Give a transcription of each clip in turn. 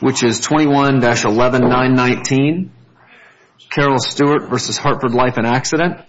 which is 21-11919 Carol Stewart v. Hartford Life and Accident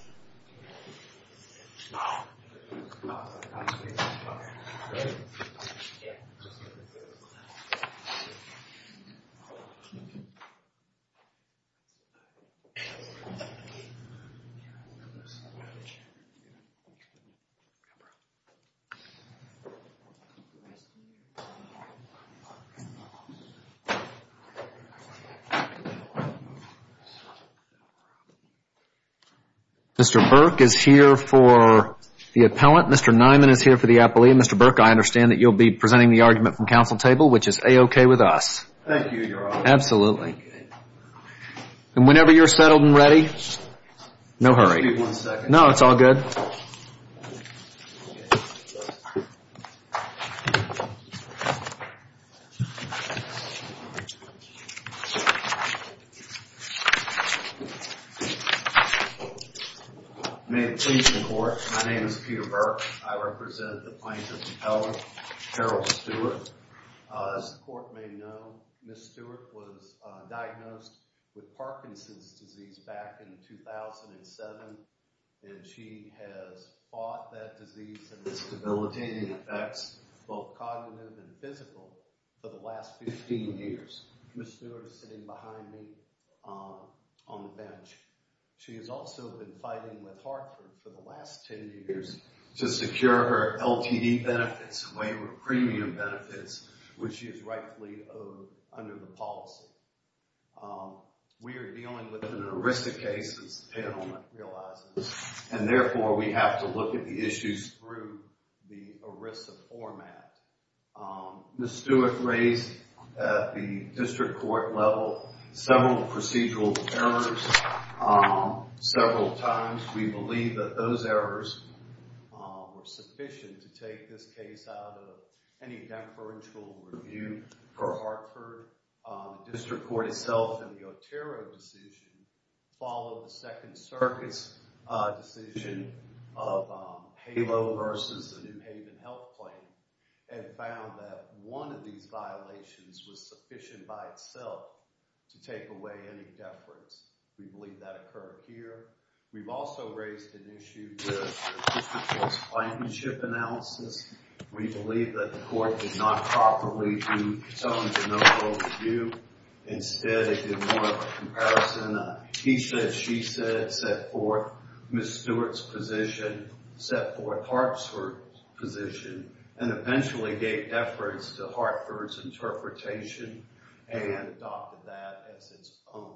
Mr. Burke is here for the appellant. Mr. Niman is here for the appellee. Mr. Burke, I understand that you'll be presenting the argument from council table, which is A-OK with us. Thank you, Your Honor. Absolutely. And whenever you're settled and ready, no hurry. Maybe one second. No, it's all good. May it please the court, my name is Peter Burke. I represent the plaintiff's appellant, Carol Stewart. As the court may know, Ms. Stewart was diagnosed with Parkinson's disease back in 2007. And she has fought that disease and its debilitating effects, both cognitive and physical, for the last 15 years. Ms. Stewart is sitting behind me on the bench. She has also been fighting with Hartford for the last 10 years to secure her LTD benefits, waiver premium benefits, which she has rightfully owed under the policy. We are dealing with an ERISA case, as the panel realizes, and therefore we have to look at the issues through the ERISA format. Ms. Stewart raised at the district court level several procedural errors several times. We believe that those errors were sufficient to take this case out of any deferential review for Hartford. District court itself in the Otero decision followed the Second Circuit's decision of HALO versus the New Haven health claim. And found that one of these violations was sufficient by itself to take away any deference. We believe that occurred here. We've also raised an issue with the district court's plaintiffship analysis. We believe that the court did not properly do its own general review. Instead, it did more of a comparison of he said, she said, set forth Ms. Stewart's position, set forth Hartford's position. And eventually gave deference to Hartford's interpretation and adopted that as its own.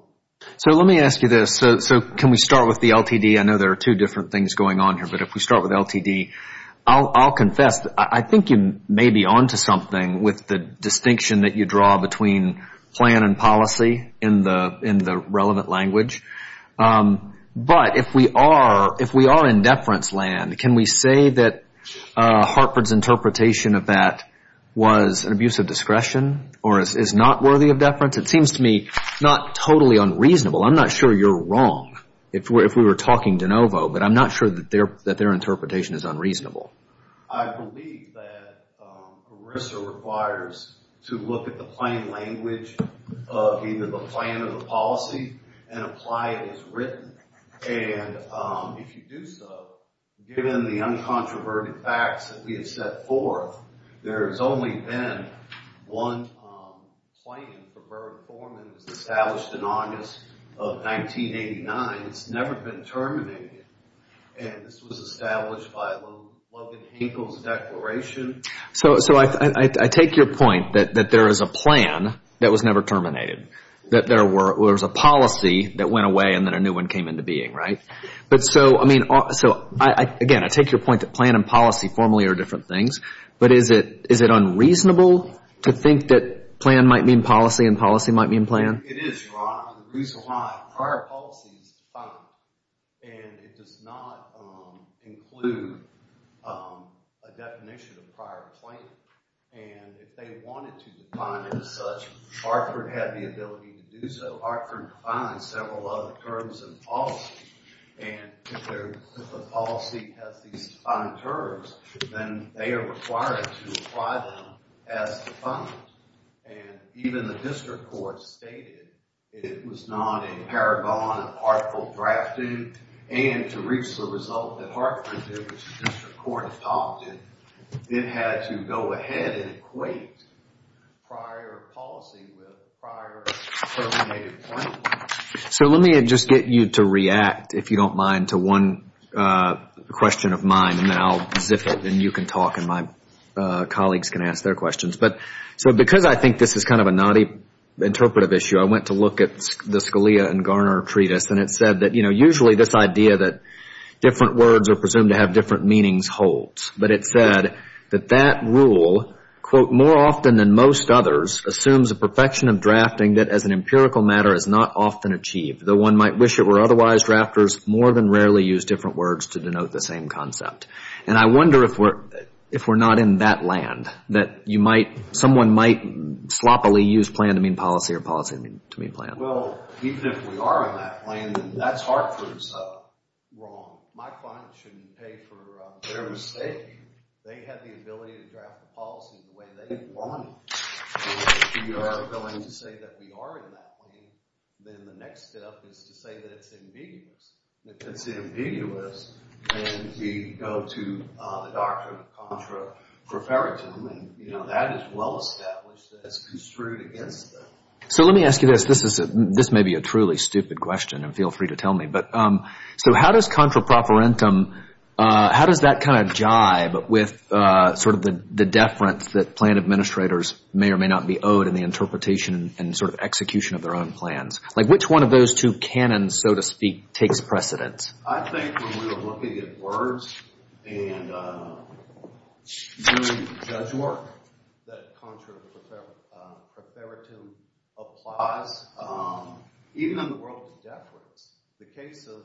So let me ask you this. So can we start with the LTD? I know there are two different things going on here, but if we start with LTD. I'll confess, I think you may be on to something with the distinction that you draw between plan and policy in the relevant language. But if we are in deference land, can we say that Hartford's interpretation of that was an abuse of discretion or is not worthy of deference? It seems to me not totally unreasonable. I'm not sure you're wrong if we were talking de novo, but I'm not sure that their interpretation is unreasonable. I believe that ERISA requires to look at the plain language of either the plan or the policy and apply it as written. And if you do so, given the uncontroverted facts that we have set forth, there has only been one plan for Burbank-Foreman that was established in August of 1989. It's never been terminated. And this was established by Logan Hinkle's declaration. So I take your point that there is a plan that was never terminated, that there was a policy that went away and then a new one came into being, right? But so, I mean, again, I take your point that plan and policy formally are different things, but is it unreasonable to think that plan might mean policy and policy might mean plan? It is, Ron. The reason why, prior policy is defined, and it does not include a definition of prior plan. And if they wanted to define it as such, Hartford had the ability to do so. Hartford defines several other terms in policy, and if the policy has these defined terms, then they are required to apply them as defined. And even the district court stated it was not a paragon of article drafting. And to reach the result that Hartford did, which the district court adopted, it had to go ahead and equate prior policy with prior terminated plan. So let me just get you to react, if you don't mind, to one question of mine, and then I'll zip it and you can talk and my colleagues can ask their questions. But so because I think this is kind of a naughty interpretive issue, I went to look at the Scalia and Garner treatise, and it said that, you know, usually this idea that different words are presumed to have different meanings holds. But it said that that rule, quote, more often than most others, assumes a perfection of drafting that as an empirical matter is not often achieved. Though one might wish it were otherwise, drafters more than rarely use different words to denote the same concept. And I wonder if we're not in that land, that you might, someone might sloppily use plan to mean policy or policy to mean plan. Well, even if we are in that plan, that's Hartford's fault. My client shouldn't pay for their mistake. They have the ability to draft the policy the way they want it. So if you are willing to say that we are in that plane, then the next step is to say that it's ambiguous. If it's ambiguous, then we go to the doctrine of contra proferitum. And, you know, that is well established as construed against them. So let me ask you this. This may be a truly stupid question, and feel free to tell me. But so how does contra proferentum, how does that kind of jibe with sort of the deference that plan administrators may or may not be owed in the interpretation and sort of execution of their own plans? Like which one of those two canons, so to speak, takes precedence? I think when we are looking at words and doing judge work, that contra proferitum applies. Even in the world of deference, the case of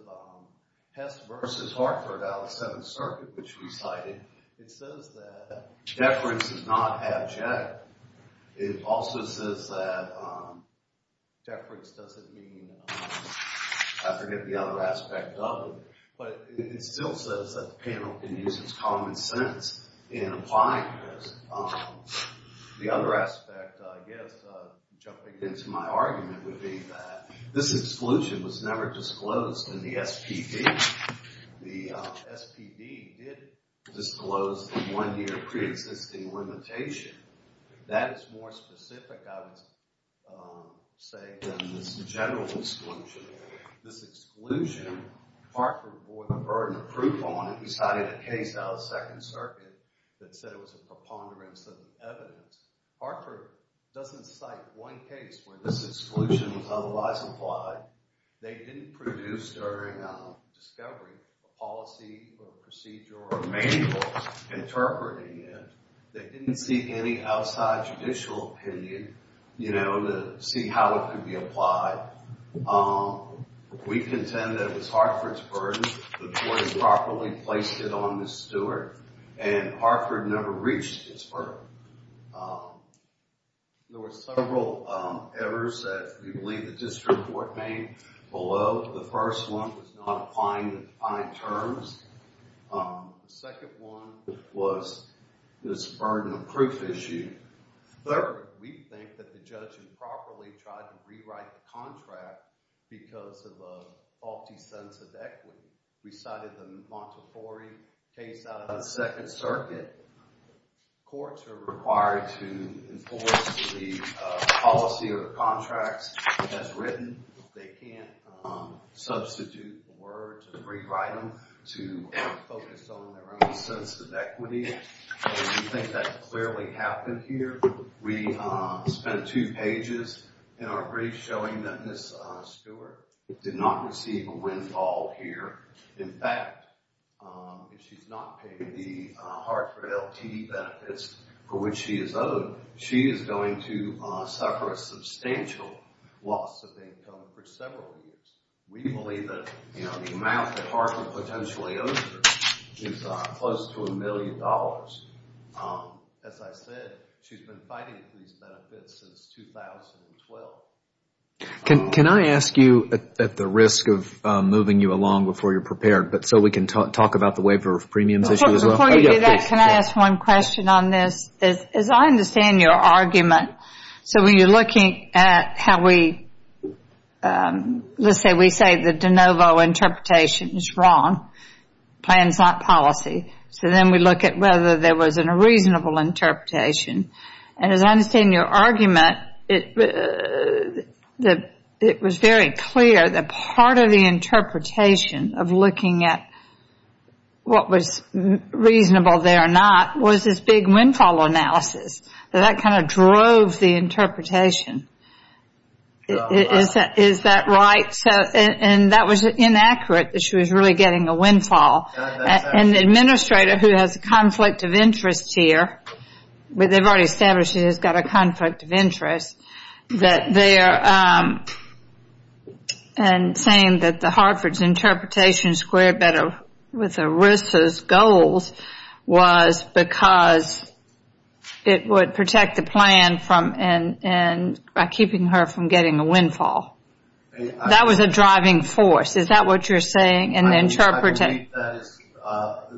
Hess versus Hartford out of the Seventh Circuit, which we cited, it says that deference is not abject. It also says that deference doesn't mean, I forget the other aspect of it, but it still says that the panel can use its common sense in applying this. The other aspect, I guess, jumping into my argument would be that this exclusion was never disclosed in the SPD. The SPD did disclose the one-year preexisting limitation. That is more specific, I would say, than this general exclusion. This exclusion, Hartford bore the burden of proof on it. He cited a case out of the Second Circuit that said it was a preponderance of evidence. Hartford doesn't cite one case where this exclusion was otherwise applied. They didn't produce, during discovery, a policy or a procedure or a manual interpreting it. They didn't see any outside judicial opinion to see how it could be applied. We contend that it was Hartford's burden. The court had properly placed it on Ms. Stewart, and Hartford never reached its burden. There were several errors that we believe the district court made below. The first one was not applying the defined terms. The second one was this burden of proof issue. Third, we think that the judge improperly tried to rewrite the contract because of a faulty sense of equity. We cited the Montefiore case out of the Second Circuit. Courts are required to enforce the policy or the contracts as written. They can't substitute the words and rewrite them to focus on their own sense of equity. We think that clearly happened here. We spent two pages in our brief showing that Ms. Stewart did not receive a windfall here. In fact, if she's not paid the Hartford LT benefits for which she is owed, she is going to suffer a substantial loss of income for several years. We believe that the amount that Hartford potentially owes her is close to a million dollars. As I said, she's been fighting for these benefits since 2012. Can I ask you, at the risk of moving you along before you're prepared, so we can talk about the waiver of premiums issue as well? Before you do that, can I ask one question on this? As I understand your argument, so when you're looking at how we, let's say we say the de novo interpretation is wrong, plans not policy, so then we look at whether there was a reasonable interpretation. As I understand your argument, it was very clear that part of the interpretation of looking at what was reasonable there or not was this big windfall analysis. That kind of drove the interpretation. Is that right? That was inaccurate that she was really getting a windfall. An administrator who has a conflict of interest here, they've already established he's got a conflict of interest, that they are saying that the Hartford's interpretation squared better with ERISA's goals was because it would protect the plan by keeping her from getting a windfall. That was a driving force. Is that what you're saying? I believe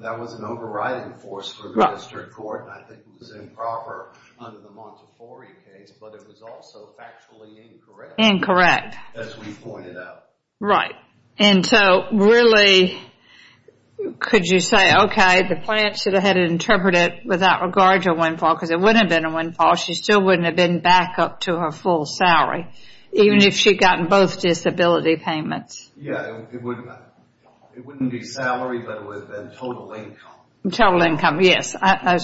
that was an overriding force for the district court. I think it was improper under the Montefiore case, but it was also factually incorrect. Incorrect. As we pointed out. Right. And so really, could you say, okay, the plan should have had interpreted without regard to a windfall, because it wouldn't have been a windfall. She still wouldn't have been back up to her full salary, even if she'd gotten both disability payments. Yeah, it wouldn't be salary, but it would have been total income. Total income, yes. I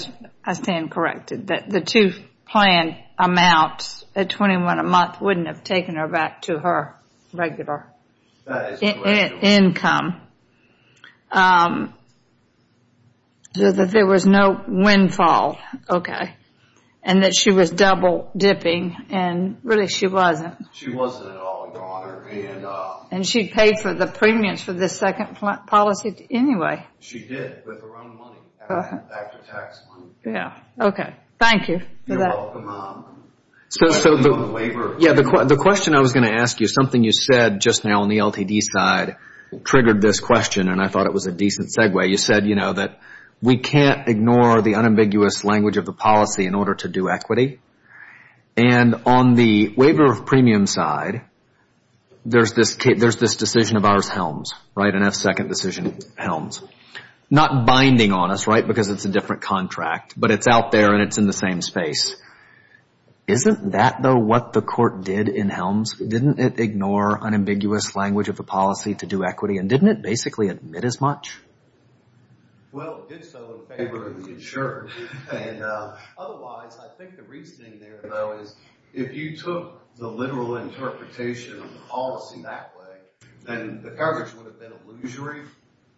stand corrected that the two plan amounts at $21 a month wouldn't have taken her back to her regular income. So that there was no windfall. Okay. And that she was double dipping, and really she wasn't. She wasn't at all, Your Honor. And she paid for the premiums for the second policy anyway. She did, with her own money, after tax money. Yeah. Okay. Thank you for that. You're welcome. So the question I was going to ask you, something you said just now on the LTD side triggered this question, and I thought it was a decent segue. You said, you know, that we can't ignore the unambiguous language of the policy in order to do equity. And on the waiver of premiums side, there's this decision of ours, Helms, right? An F-second decision, Helms. Not binding on us, right, because it's a different contract, but it's out there and it's in the same space. Isn't that, though, what the court did in Helms? Didn't it ignore unambiguous language of the policy to do equity, and didn't it basically admit as much? Well, it did so in favor of the insured. Otherwise, I think the reasoning there, though, is if you took the literal interpretation of the policy that way, then the coverage would have been illusory.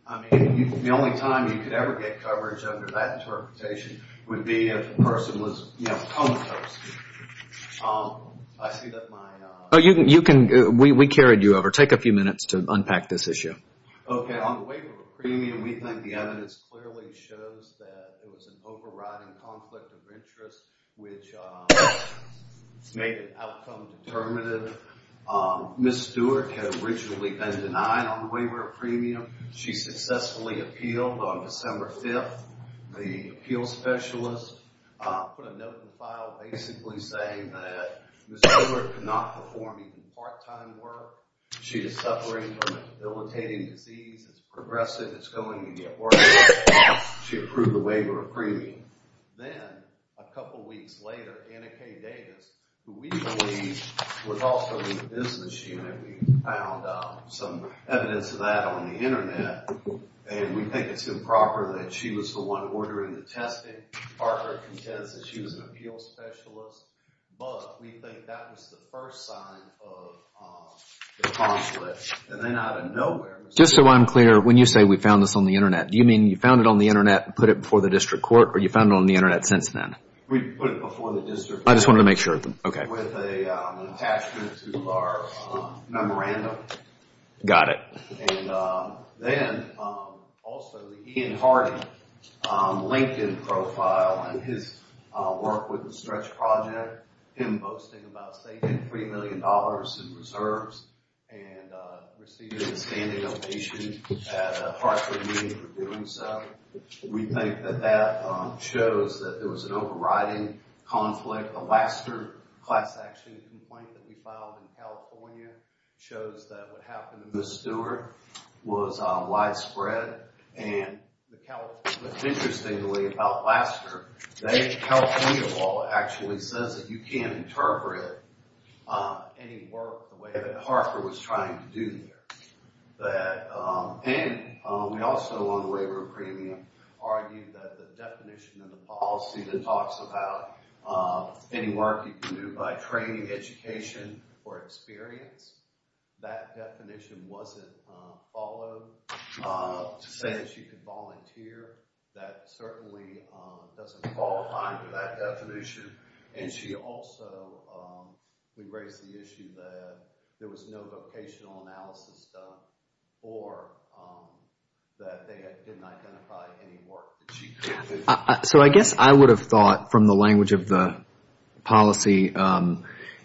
I mean, the only time you could ever get coverage under that interpretation would be if the person was, you know, comatose. I see that my – You can – we carried you over. Take a few minutes to unpack this issue. Okay, on the waiver of premium, we think the evidence clearly shows that there was an overriding conflict of interest, which made an outcome determinative. Ms. Stewart had originally been denied on the waiver of premium. She successfully appealed on December 5th. The appeal specialist put a note in the file basically saying that Ms. Stewart could not perform even part-time work. She is suffering from a debilitating disease. It's progressing. It's going to get worse. She approved the waiver of premium. Then, a couple weeks later, Anna K. Davis, who we believe was also in the business unit, we found some evidence of that on the Internet, and we think it's improper that she was the one ordering the testing. Parker contends that she was an appeal specialist. But we think that was the first sign of the conflict. And then out of nowhere, Ms. Stewart – Just so I'm clear, when you say we found this on the Internet, do you mean you found it on the Internet and put it before the district court, or you found it on the Internet since then? We put it before the district court. I just wanted to make sure. Okay. With an attachment to our memorandum. Got it. Then, also, the Ian Hardy LinkedIn profile and his work with the Stretch Project, him boasting about saving $3 million in reserves and receiving a standing ovation at a Hartford meeting for doing so. We think that that shows that there was an overriding conflict. The Lassiter class action complaint that we filed in California shows that what happened to Ms. Stewart was widespread. And interestingly about Lassiter, the California law actually says that you can't interpret any work the way that Hartford was trying to do here. And we also, on the waiver of premium, argue that the definition of the policy that talks about any work you can do by training, education, or experience, that definition wasn't followed to say that she could volunteer. That certainly doesn't fall in line with that definition. And she also, we raised the issue that there was no vocational analysis done or that they didn't identify any work that she could do. So I guess I would have thought, from the language of the policy,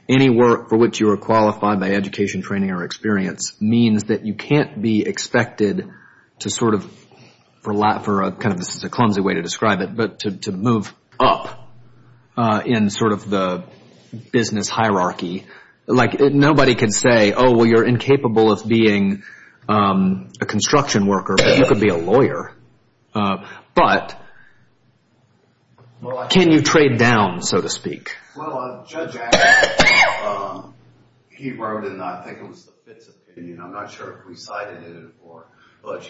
any work for which you are qualified by education, training, or experience means that you can't be expected to sort of, this is a clumsy way to describe it, but to move up in sort of the business hierarchy. Like nobody can say, oh, well, you're incapable of being a construction worker, but you could be a lawyer. But can you trade down, so to speak? Well, Judge Adams, he wrote in, I think it was the Fitts opinion, I'm not sure if we cited it, but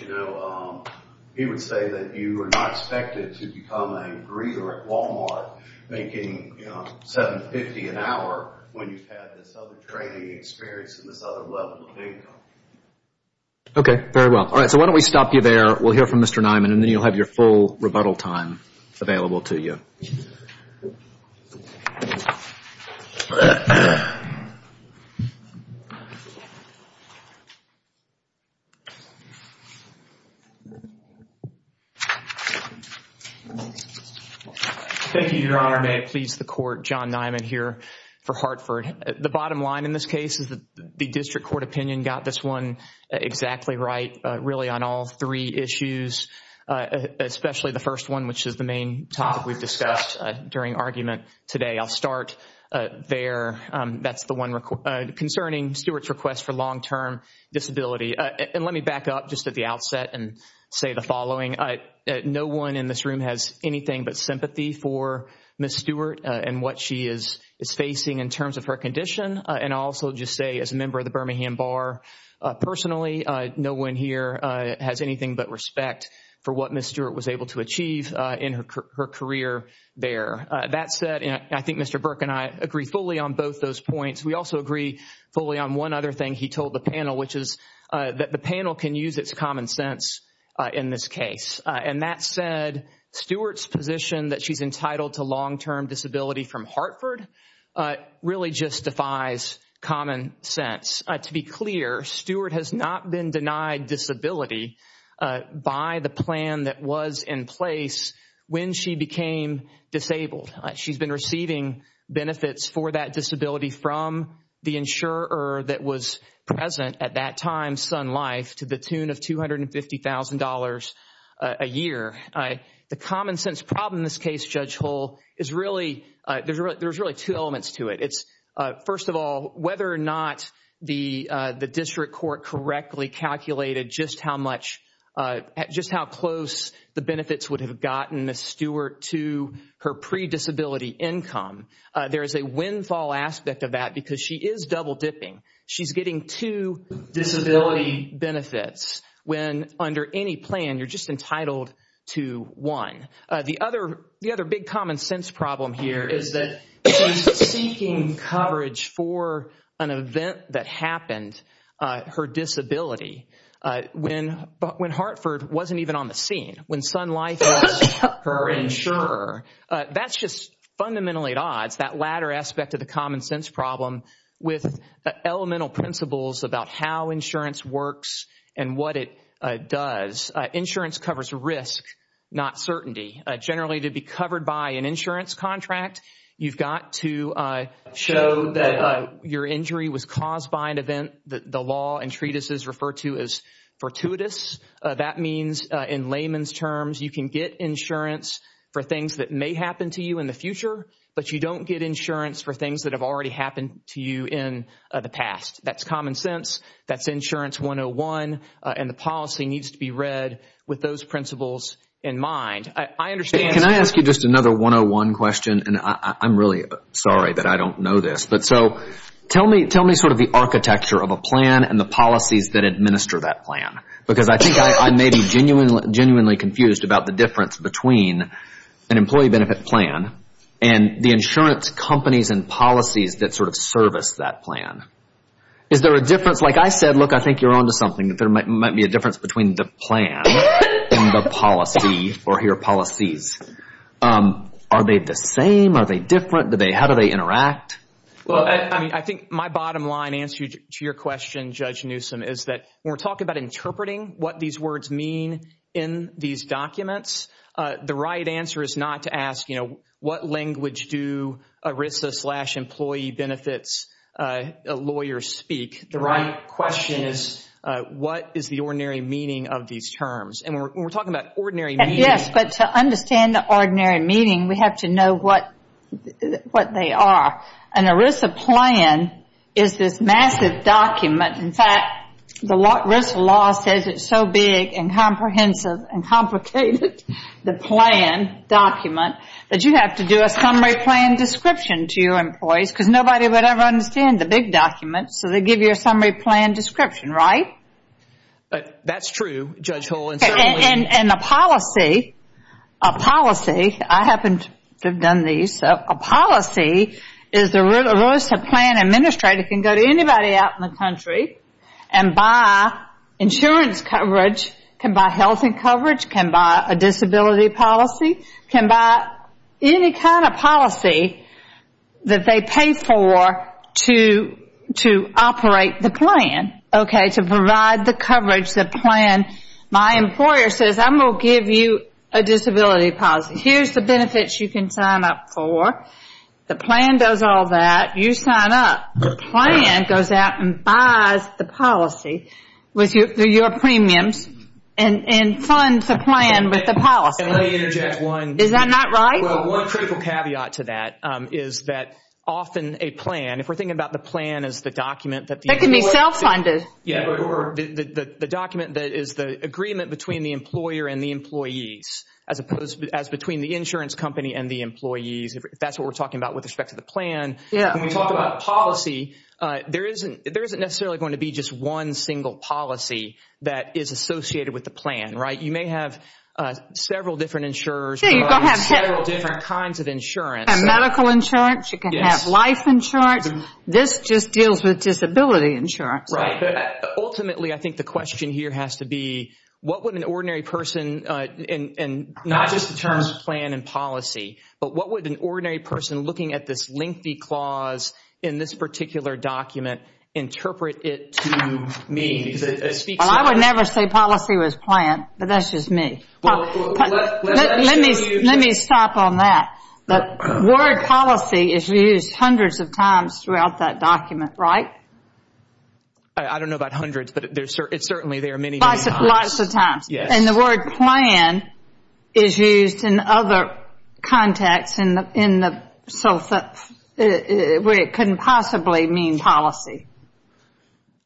he would say that you are not expected to become a greeter at Walmart making $7.50 an hour when you've had this other training experience and this other level of income. Okay, very well. All right, so why don't we stop you there. We'll hear from Mr. Niman, and then you'll have your full rebuttal time available to you. Thank you, Your Honor. May it please the Court, John Niman here for Hartford. The bottom line in this case is that the district court opinion got this one exactly right, really on all three issues, especially the first one, which is the main topic we've discussed during argument today. I'll start there. That's the one concerning Stewart's request for long-term disability. And let me back up just at the outset and say the following. No one in this room has anything but sympathy for Ms. Stewart and what she is facing in terms of her condition. And I'll also just say, as a member of the Birmingham Bar personally, no one here has anything but respect for what Ms. Stewart was able to achieve in her career there. That said, I think Mr. Burke and I agree fully on both those points. We also agree fully on one other thing he told the panel, which is that the panel can use its common sense in this case. And that said, Stewart's position that she's entitled to long-term disability from Hartford really just defies common sense. To be clear, Stewart has not been denied disability by the plan that was in place when she became disabled. She's been receiving benefits for that disability from the insurer that was present at that time, Sun Life, to the tune of $250,000 a year. The common sense problem in this case, Judge Hull, there's really two elements to it. First of all, whether or not the district court correctly calculated just how close the benefits would have gotten Ms. Stewart to her pre-disability income, there is a windfall aspect of that because she is double dipping. She's getting two disability benefits when under any plan you're just entitled to one. The other big common sense problem here is that she's seeking coverage for an event that happened, her disability, when Hartford wasn't even on the scene, when Sun Life asked her insurer. That's just fundamentally at odds, that latter aspect of the common sense problem with elemental principles about how insurance works and what it does. Insurance covers risk, not certainty. Generally, to be covered by an insurance contract, you've got to show that your injury was caused by an event that the law and treatises refer to as fortuitous. That means in layman's terms, you can get insurance for things that may happen to you in the future, but you don't get insurance for things that have already happened to you in the past. That's common sense, that's insurance 101, and the policy needs to be read with those principles in mind. Can I ask you just another 101 question? I'm really sorry that I don't know this. Tell me sort of the architecture of a plan and the policies that administer that plan because I think I may be genuinely confused about the difference between an employee benefit plan and the insurance companies and policies that sort of service that plan. Is there a difference? Like I said, look, I think you're on to something. There might be a difference between the plan and the policy or your policies. Are they the same? Are they different? How do they interact? Well, I think my bottom line answer to your question, Judge Newsom, is that when we're talking about interpreting what these words mean in these documents, the right answer is not to ask, you know, what language do ERISA slash employee benefits lawyers speak. The right question is what is the ordinary meaning of these terms? And when we're talking about ordinary meaning. Yes, but to understand the ordinary meaning, we have to know what they are. An ERISA plan is this massive document. In fact, the ERISA law says it's so big and comprehensive and complicated, the plan document, that you have to do a summary plan description to your employees because nobody would ever understand the big documents. So they give you a summary plan description, right? That's true, Judge Hull. And the policy, a policy, I happen to have done these. A policy is the ERISA plan administrator can go to anybody out in the country and buy insurance coverage, can buy health coverage, can buy a disability policy, can buy any kind of policy that they pay for to operate the plan. Okay, to provide the coverage, the plan. My employer says, I'm going to give you a disability policy. Here's the benefits you can sign up for. The plan does all that. You sign up. The plan goes out and buys the policy with your premiums and funds the plan with the policy. Is that not right? Well, one critical caveat to that is that often a plan, if we're thinking about the plan as the document that the employer. That can be self-funded. Yeah, or the document that is the agreement between the employer and the employees as between the insurance company and the employees. That's what we're talking about with respect to the plan. When we talk about policy, there isn't necessarily going to be just one single policy that is associated with the plan. You may have several different insurers providing several different kinds of insurance. You can have medical insurance. You can have life insurance. This just deals with disability insurance. Ultimately, I think the question here has to be, what would an ordinary person, and not just the terms plan and policy, but what would an ordinary person looking at this lengthy clause in this particular document interpret it to mean? I would never say policy was planned, but that's just me. Let me stop on that. The word policy is used hundreds of times throughout that document, right? I don't know about hundreds, but certainly there are many, many times. Lots of times. The word plan is used in other contexts where it couldn't possibly mean policy.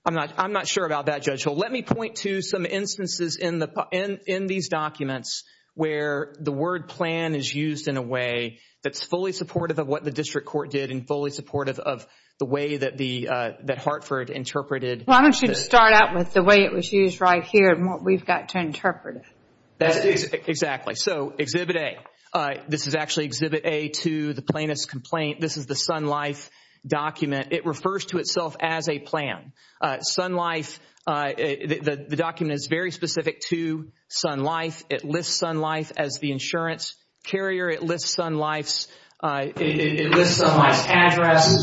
I'm not sure about that, Judge Hull. Let me point to some instances in these documents where the word plan is used in a way that's fully supportive of what the district court did and fully supportive of the way that Hartford interpreted it. Why don't you start out with the way it was used right here and what we've got to interpret it. Exactly. Exhibit A. This is actually Exhibit A to the plaintiff's complaint. This is the Sun Life document. It refers to itself as a plan. The document is very specific to Sun Life. It lists Sun Life's address. This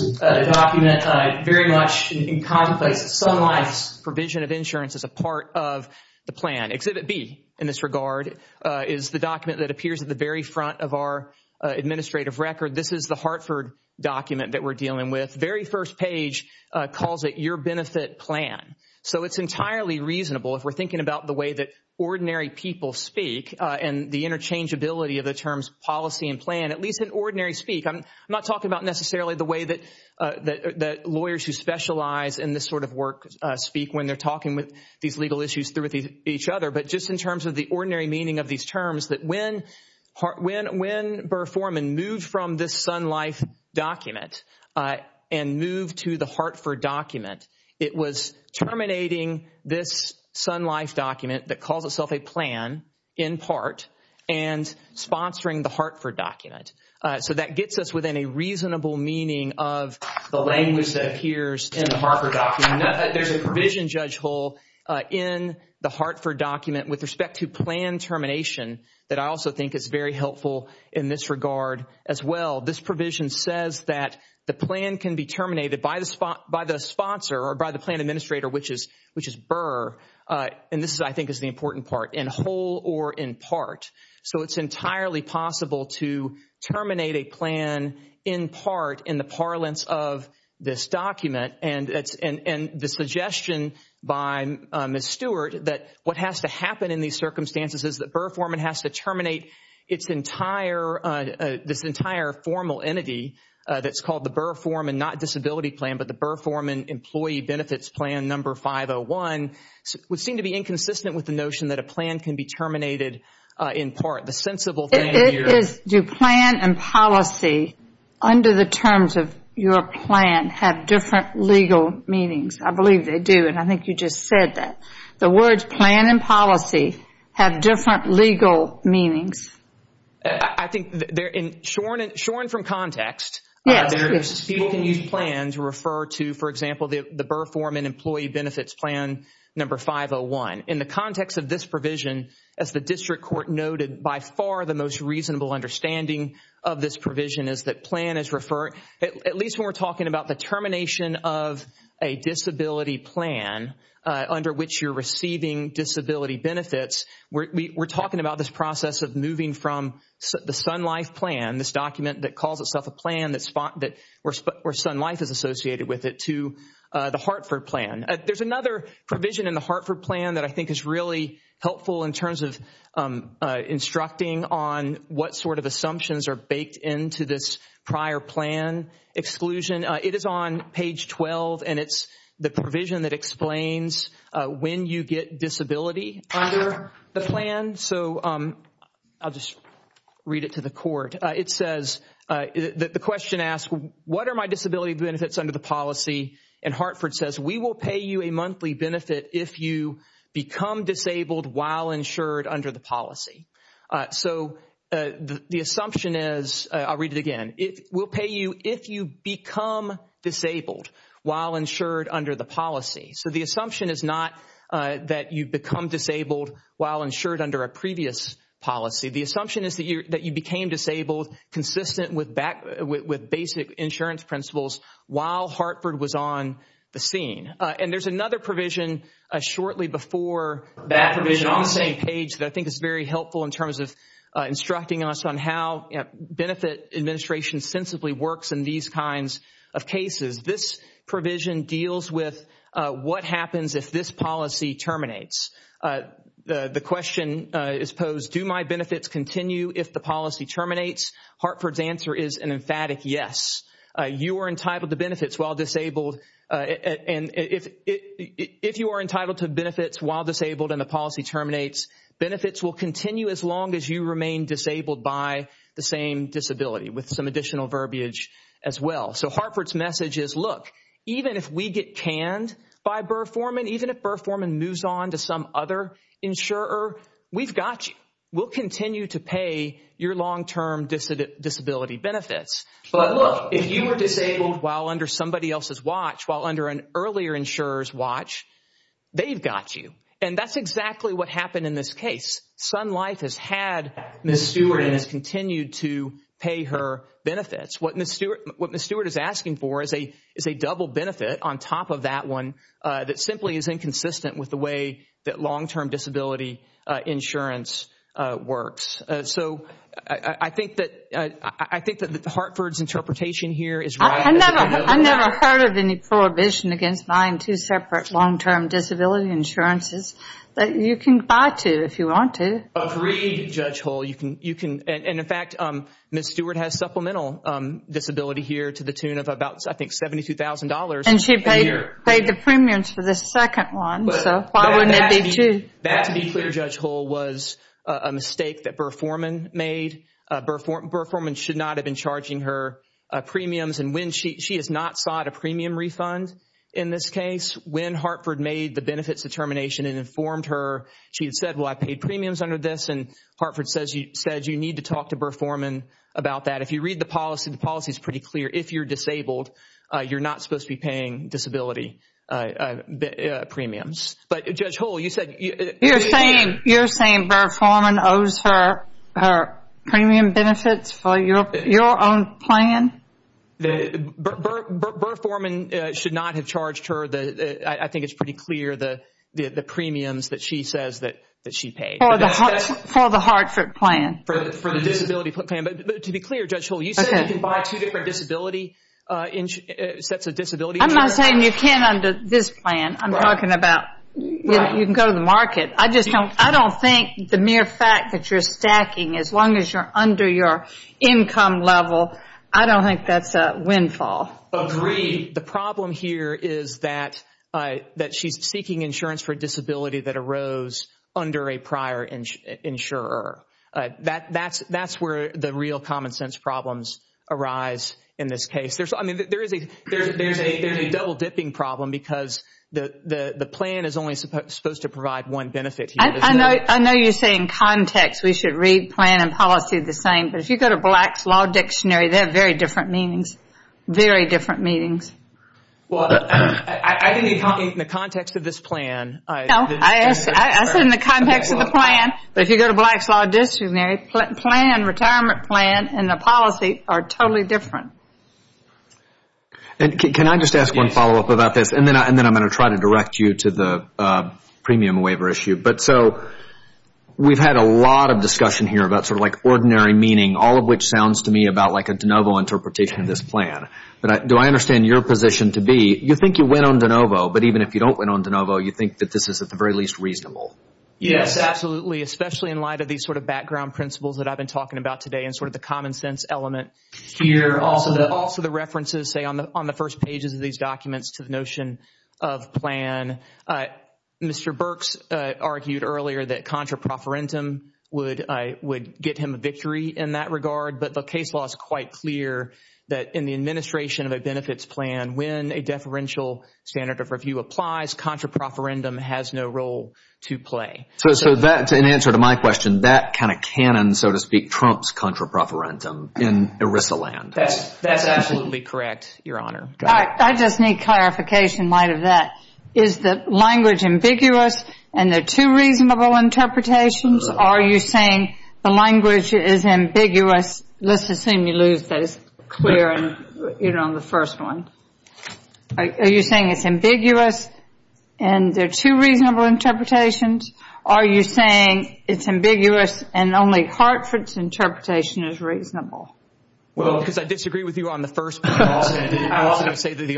is a document very much in commonplace. Sun Life's provision of insurance is a part of the plan. Exhibit B in this regard is the document that appears at the very front of our administrative record. This is the Hartford document that we're dealing with. The very first page calls it your benefit plan. So it's entirely reasonable if we're thinking about the way that ordinary people speak and the interchangeability of the terms policy and plan, at least in ordinary speak. I'm not talking about necessarily the way that lawyers who specialize in this sort of work speak when they're talking with these legal issues through each other, but just in terms of the ordinary meaning of these terms, that when Burr Foreman moved from this Sun Life document and moved to the Hartford document, it was terminating this Sun Life document that calls itself a plan, in part, and sponsoring the Hartford document. So that gets us within a reasonable meaning of the language that appears in the Hartford document. There's a provision, Judge Hull, in the Hartford document with respect to plan termination that I also think is very helpful in this regard as well. This provision says that the plan can be terminated by the sponsor or by the plan administrator, which is Burr, and this, I think, is the important part, in whole or in part. So it's entirely possible to terminate a plan, in part, in the parlance of this document, and the suggestion by Ms. Stewart that what has to happen in these circumstances is that Burr Foreman has to terminate this entire formal entity that's called the Burr Foreman, not disability plan, but the Burr Foreman employee benefits plan number 501, would seem to be inconsistent with the notion that a plan can be terminated, in part. The sensible thing here is... It is. Do plan and policy, under the terms of your plan, have different legal meanings? I believe they do, and I think you just said that. The words plan and policy have different legal meanings. I think, shorn from context... Yes. ...plans refer to, for example, the Burr Foreman employee benefits plan number 501. In the context of this provision, as the district court noted, by far the most reasonable understanding of this provision is that plan is referred... At least when we're talking about the termination of a disability plan under which you're receiving disability benefits, we're talking about this process of moving from the Sun Life plan, this document that calls itself a plan where Sun Life is associated with it, to the Hartford plan. There's another provision in the Hartford plan that I think is really helpful in terms of instructing on what sort of assumptions are baked into this prior plan exclusion. It is on page 12, and it's the provision that explains when you get disability under the plan. I'll just read it to the court. The question asks, what are my disability benefits under the policy? Hartford says, we will pay you a monthly benefit if you become disabled while insured under the policy. The assumption is, I'll read it again, we'll pay you if you become disabled while insured under the policy. The assumption is not that you become disabled while insured under a previous policy. The assumption is that you became disabled consistent with basic insurance principles while Hartford was on the scene. There's another provision shortly before that on the same page that I think is very helpful in terms of instructing us on how benefit administration sensibly works in these kinds of cases. This provision deals with what happens if this policy terminates. The question is posed, do my benefits continue if the policy terminates? Hartford's answer is an emphatic yes. You are entitled to benefits while disabled. If you are entitled to benefits while disabled and the policy terminates, benefits will continue as long as you remain disabled by the same disability with some additional verbiage as well. So Hartford's message is, look, even if we get canned by Burr-Foreman, even if Burr-Foreman moves on to some other insurer, we've got you. We'll continue to pay your long-term disability benefits. But look, if you were disabled while under somebody else's watch, while under an earlier insurer's watch, they've got you. And that's exactly what happened in this case. Sun Life has had Ms. Stewart and has continued to pay her benefits. What Ms. Stewart is asking for is a double benefit on top of that one that simply is inconsistent with the way that long-term disability insurance works. So I think that Hartford's interpretation here is right. I've never heard of any prohibition against buying two separate long-term disability insurances that you can buy two if you want to. Agreed, Judge Hull. In fact, Ms. Stewart has supplemental disability here to the tune of about, I think, $72,000. And she paid the premiums for the second one, so why wouldn't it be two? That, to be clear, Judge Hull, was a mistake that Burr-Foreman made. Burr-Foreman should not have been charging her premiums. She has not sought a premium refund in this case. When Hartford made the benefits determination and informed her, she had said, well, I paid premiums under this, and Hartford said you need to talk to Burr-Foreman about that. If you read the policy, the policy is pretty clear. If you're disabled, you're not supposed to be paying disability premiums. But, Judge Hull, you said- You're saying Burr-Foreman owes her premium benefits for your own plan? Burr-Foreman should not have charged her. I think it's pretty clear the premiums that she says that she paid. For the Hartford plan? For the disability plan. But, to be clear, Judge Hull, you said you can buy two different disability-sets of disability insurance? I'm not saying you can't under this plan. I'm talking about you can go to the market. I don't think the mere fact that you're stacking, as long as you're under your income level, I don't think that's a windfall. Agreed. The problem here is that she's seeking insurance for a disability that arose under a prior insurer. That's where the real common-sense problems arise in this case. There's a double-dipping problem because the plan is only supposed to provide one benefit. I know you're saying context. We should read plan and policy the same. But if you go to Black's Law Dictionary, they have very different meanings. Very different meanings. Well, I didn't mean in the context of this plan. No, I said in the context of the plan. But if you go to Black's Law Dictionary, plan, retirement plan, and the policy are totally different. Can I just ask one follow-up about this? And then I'm going to try to direct you to the premium waiver issue. We've had a lot of discussion here about sort of like ordinary meaning, all of which sounds to me about like a de novo interpretation of this plan. But do I understand your position to be you think you went on de novo, but even if you don't went on de novo, you think that this is at the very least reasonable? Yes, absolutely, especially in light of these sort of background principles that I've been talking about today and sort of the common-sense element here. Also the references, say, on the first pages of these documents to the notion of plan. Mr. Burks argued earlier that contraproferendum would get him a victory in that regard. But the case law is quite clear that in the administration of a benefits plan, when a deferential standard of review applies, contraproferendum has no role to play. So in answer to my question, that kind of canon, so to speak, trumps contraproferendum in ERISA land. That's absolutely correct, Your Honor. I just need clarification in light of that. Is the language ambiguous and there are two reasonable interpretations? Are you saying the language is ambiguous? Let's assume you lose those clear on the first one. Are you saying it's ambiguous and there are two reasonable interpretations? Are you saying it's ambiguous and only Hartford's interpretation is reasonable? Well, because I disagree with you on the first one. I was going to say that the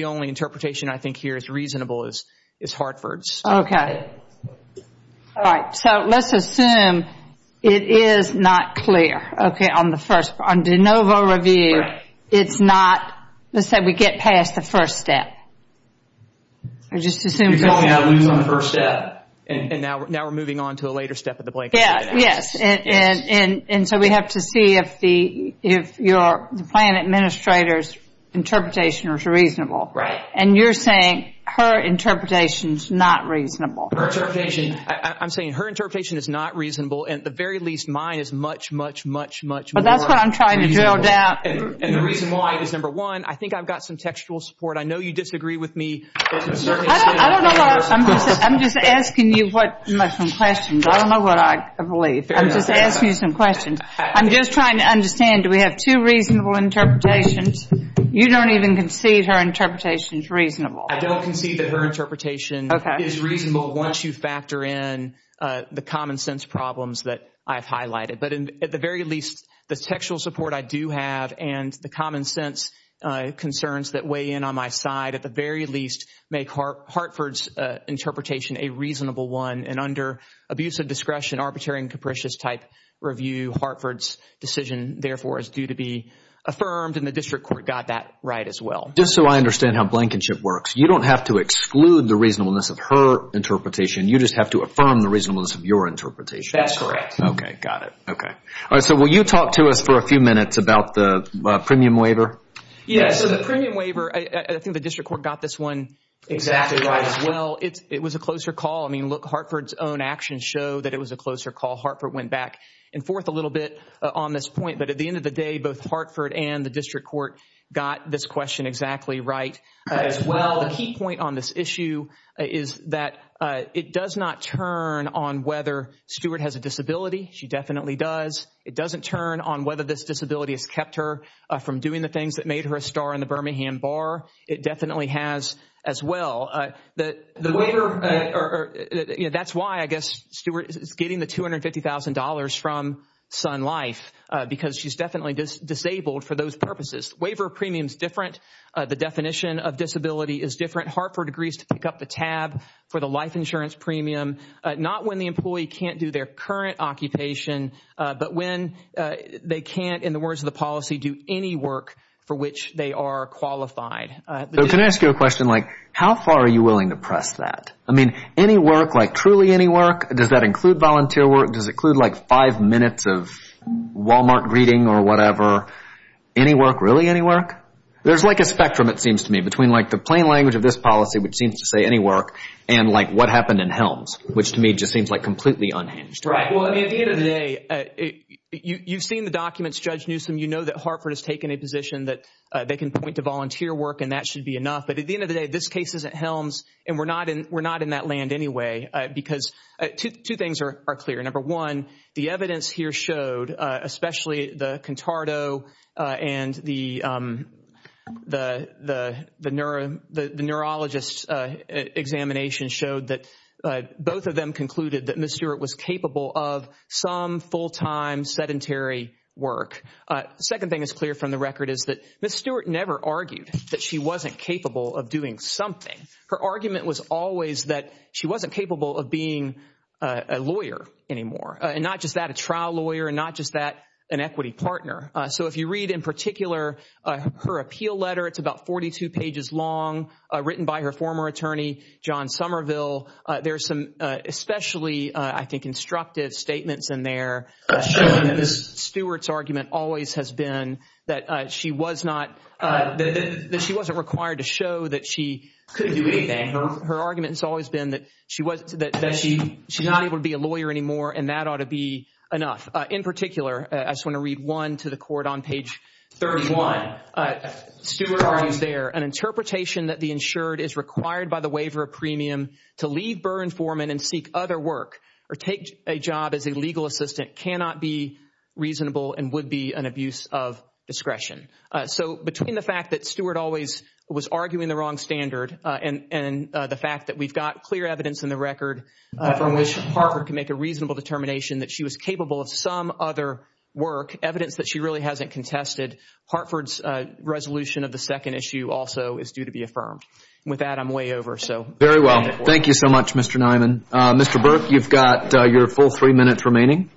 only interpretation I think here is reasonable is Hartford's. Okay. All right, so let's assume it is not clear, okay, on the first. On de novo review, it's not. Let's say we get past the first step. You're telling me I lose on the first step. And now we're moving on to a later step of the blank sheet. Yes, and so we have to see if the plan administrator's interpretation is reasonable. Right. And you're saying her interpretation is not reasonable. Her interpretation, I'm saying her interpretation is not reasonable and at the very least mine is much, much, much, much more reasonable. But that's what I'm trying to drill down. And the reason why is, number one, I think I've got some textual support. I know you disagree with me. I'm just asking you some questions. I don't know what I believe. I'm just asking you some questions. I'm just trying to understand, do we have two reasonable interpretations? You don't even concede her interpretation is reasonable. I don't concede that her interpretation is reasonable once you factor in the common sense problems that I've highlighted. But at the very least, the textual support I do have and the common sense concerns that weigh in on my side at the very least make Hartford's interpretation a reasonable one. And under abusive discretion, arbitrary and capricious type review, Hartford's decision therefore is due to be affirmed and the district court got that right as well. Just so I understand how blankenship works, you don't have to exclude the reasonableness of her interpretation. You just have to affirm the reasonableness of your interpretation. That's correct. Okay, got it. Okay, so will you talk to us for a few minutes about the premium waiver? Yes, so the premium waiver, I think the district court got this one exactly right as well. It was a closer call. I mean, look, Hartford's own actions show that it was a closer call. Hartford went back and forth a little bit on this point. But at the end of the day, both Hartford and the district court got this question exactly right as well. The key point on this issue is that it does not turn on whether Stewart has a disability. She definitely does. It doesn't turn on whether this disability has kept her from doing the things that made her a star in the Birmingham Bar. It definitely has as well. That's why I guess Stewart is getting the $250,000 from Sun Life because she's definitely disabled for those purposes. Waiver premium is different. The definition of disability is different. Hartford agrees to pick up the tab for the life insurance premium, not when the employee can't do their current occupation, but when they can't, in the words of the policy, do any work for which they are qualified. So can I ask you a question? Like how far are you willing to press that? I mean, any work, like truly any work, does that include volunteer work? Does it include like five minutes of Wal-Mart greeting or whatever? Any work, really any work? There's like a spectrum, it seems to me, between like the plain language of this policy, which seems to say any work, and like what happened in Helms, which to me just seems like completely unhinged. Right. Well, I mean, at the end of the day, you've seen the documents, Judge Newsom. You know that Hartford has taken a position that they can point to volunteer work and that should be enough. But at the end of the day, this case isn't Helms, and we're not in that land anyway because two things are clear. Number one, the evidence here showed, especially the Contardo and the neurologist examination, showed that both of them concluded that Ms. Stewart was capable of some full-time sedentary work. The second thing that's clear from the record is that Ms. Stewart never argued that she wasn't capable of doing something. Her argument was always that she wasn't capable of being a lawyer anymore, and not just that, a trial lawyer, and not just that, an equity partner. So if you read in particular her appeal letter, it's about 42 pages long, written by her former attorney, John Somerville. There's some especially, I think, instructive statements in there showing that Ms. Stewart's argument always has been that she wasn't required to show that she couldn't do anything. Her argument has always been that she's not able to be a lawyer anymore and that ought to be enough. In particular, I just want to read one to the court on page 31. Stewart argues there, an interpretation that the insured is required by the waiver of premium to leave Burn Foreman and seek other work or take a job as a legal assistant cannot be reasonable and would be an abuse of discretion. So between the fact that Stewart always was arguing the wrong standard and the fact that we've got clear evidence in the record from which Hartford can make a reasonable determination that she was capable of some other work, evidence that she really hasn't contested, Hartford's resolution of the second issue also is due to be affirmed. With that, I'm way over. Very well. Thank you so much, Mr. Niman. Mr. Burke, you've got your full three minutes remaining.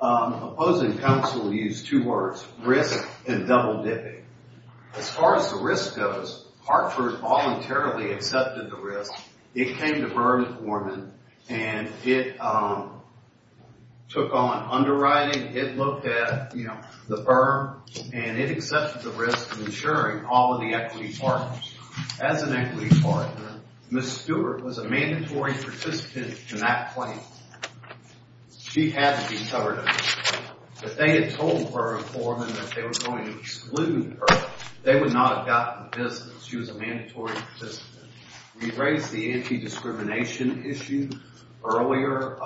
Opposing counsel used two words, risk and double-dipping. As far as the risk goes, Hartford voluntarily accepted the risk. It came to Burn Foreman and it took on underwriting. It looked at the firm and it accepted the risk of insuring all of the equity partners. As an equity partner, Ms. Stewart was a mandatory participant in that claim. She had to be covered up. If they had told Burn Foreman that they were going to exclude her, they would not have gotten the business. She was a mandatory participant. We raised the anti-discrimination issue earlier,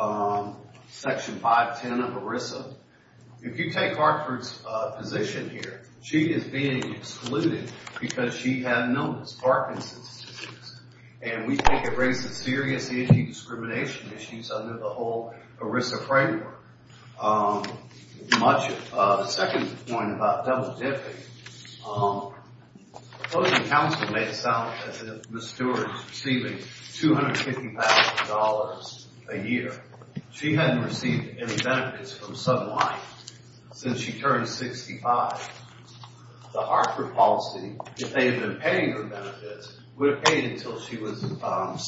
Section 510 of ERISA. If you take Hartford's position here, she is being excluded because she had no Parkinson's disease. And we think it raises serious anti-discrimination issues under the whole ERISA framework. The second point about double-dipping, opposing counsel made it sound as if Ms. Stewart is receiving $250,000 a year. She hadn't received any benefits from some life since she turned 65. The Hartford policy, if they had been paying her benefits, would have paid until she was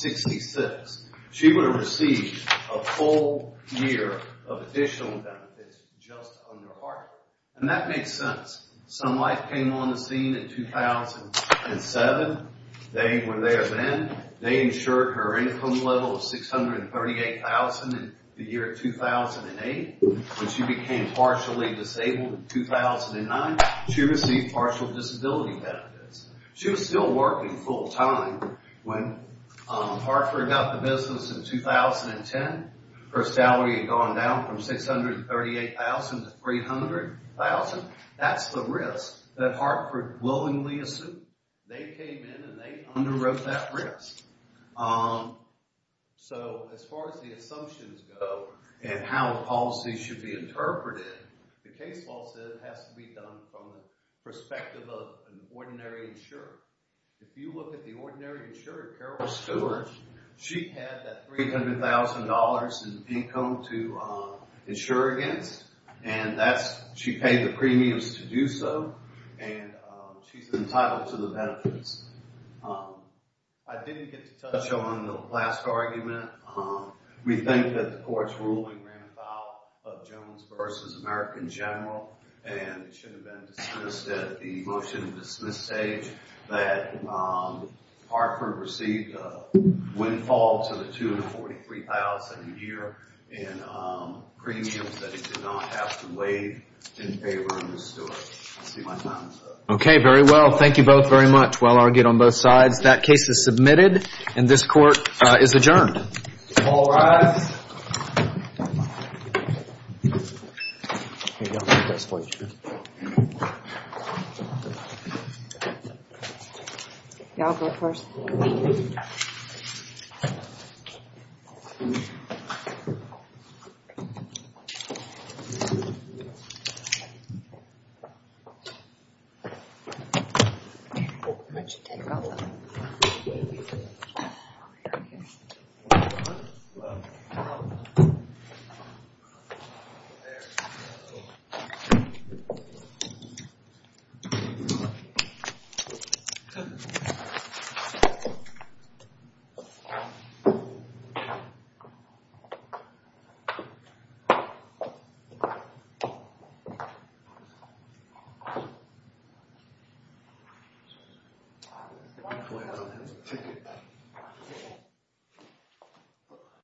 66. She would have received a full year of additional benefits just under Hartford. And that makes sense. Some life came on the scene in 2007. They were there then. They insured her income level of $638,000 in the year 2008. When she became partially disabled in 2009, she received partial disability benefits. She was still working full-time. When Hartford got the business in 2010, her salary had gone down from $638,000 to $300,000. That's the risk that Hartford willingly assumed. They came in and they underwrote that risk. So as far as the assumptions go and how a policy should be interpreted, the case law says it has to be done from the perspective of an ordinary insurer. If you look at the ordinary insurer, Carol Stewart, she had that $300,000 in income to insure against. She paid the premiums to do so. And she's entitled to the benefits. I didn't get to touch on the last argument. We think that the court's ruling ran afoul of Jones v. American General. And it should have been dismissed at the motion-to-dismiss stage that Hartford received a windfall to the $243,000 a year in premiums that he did not have to waive in favor of Ms. Stewart. I see my time is up. Okay, very well. Thank you both very much. Well argued on both sides. That case is submitted and this court is adjourned. All rise. Thank you. I'll go first. There we go.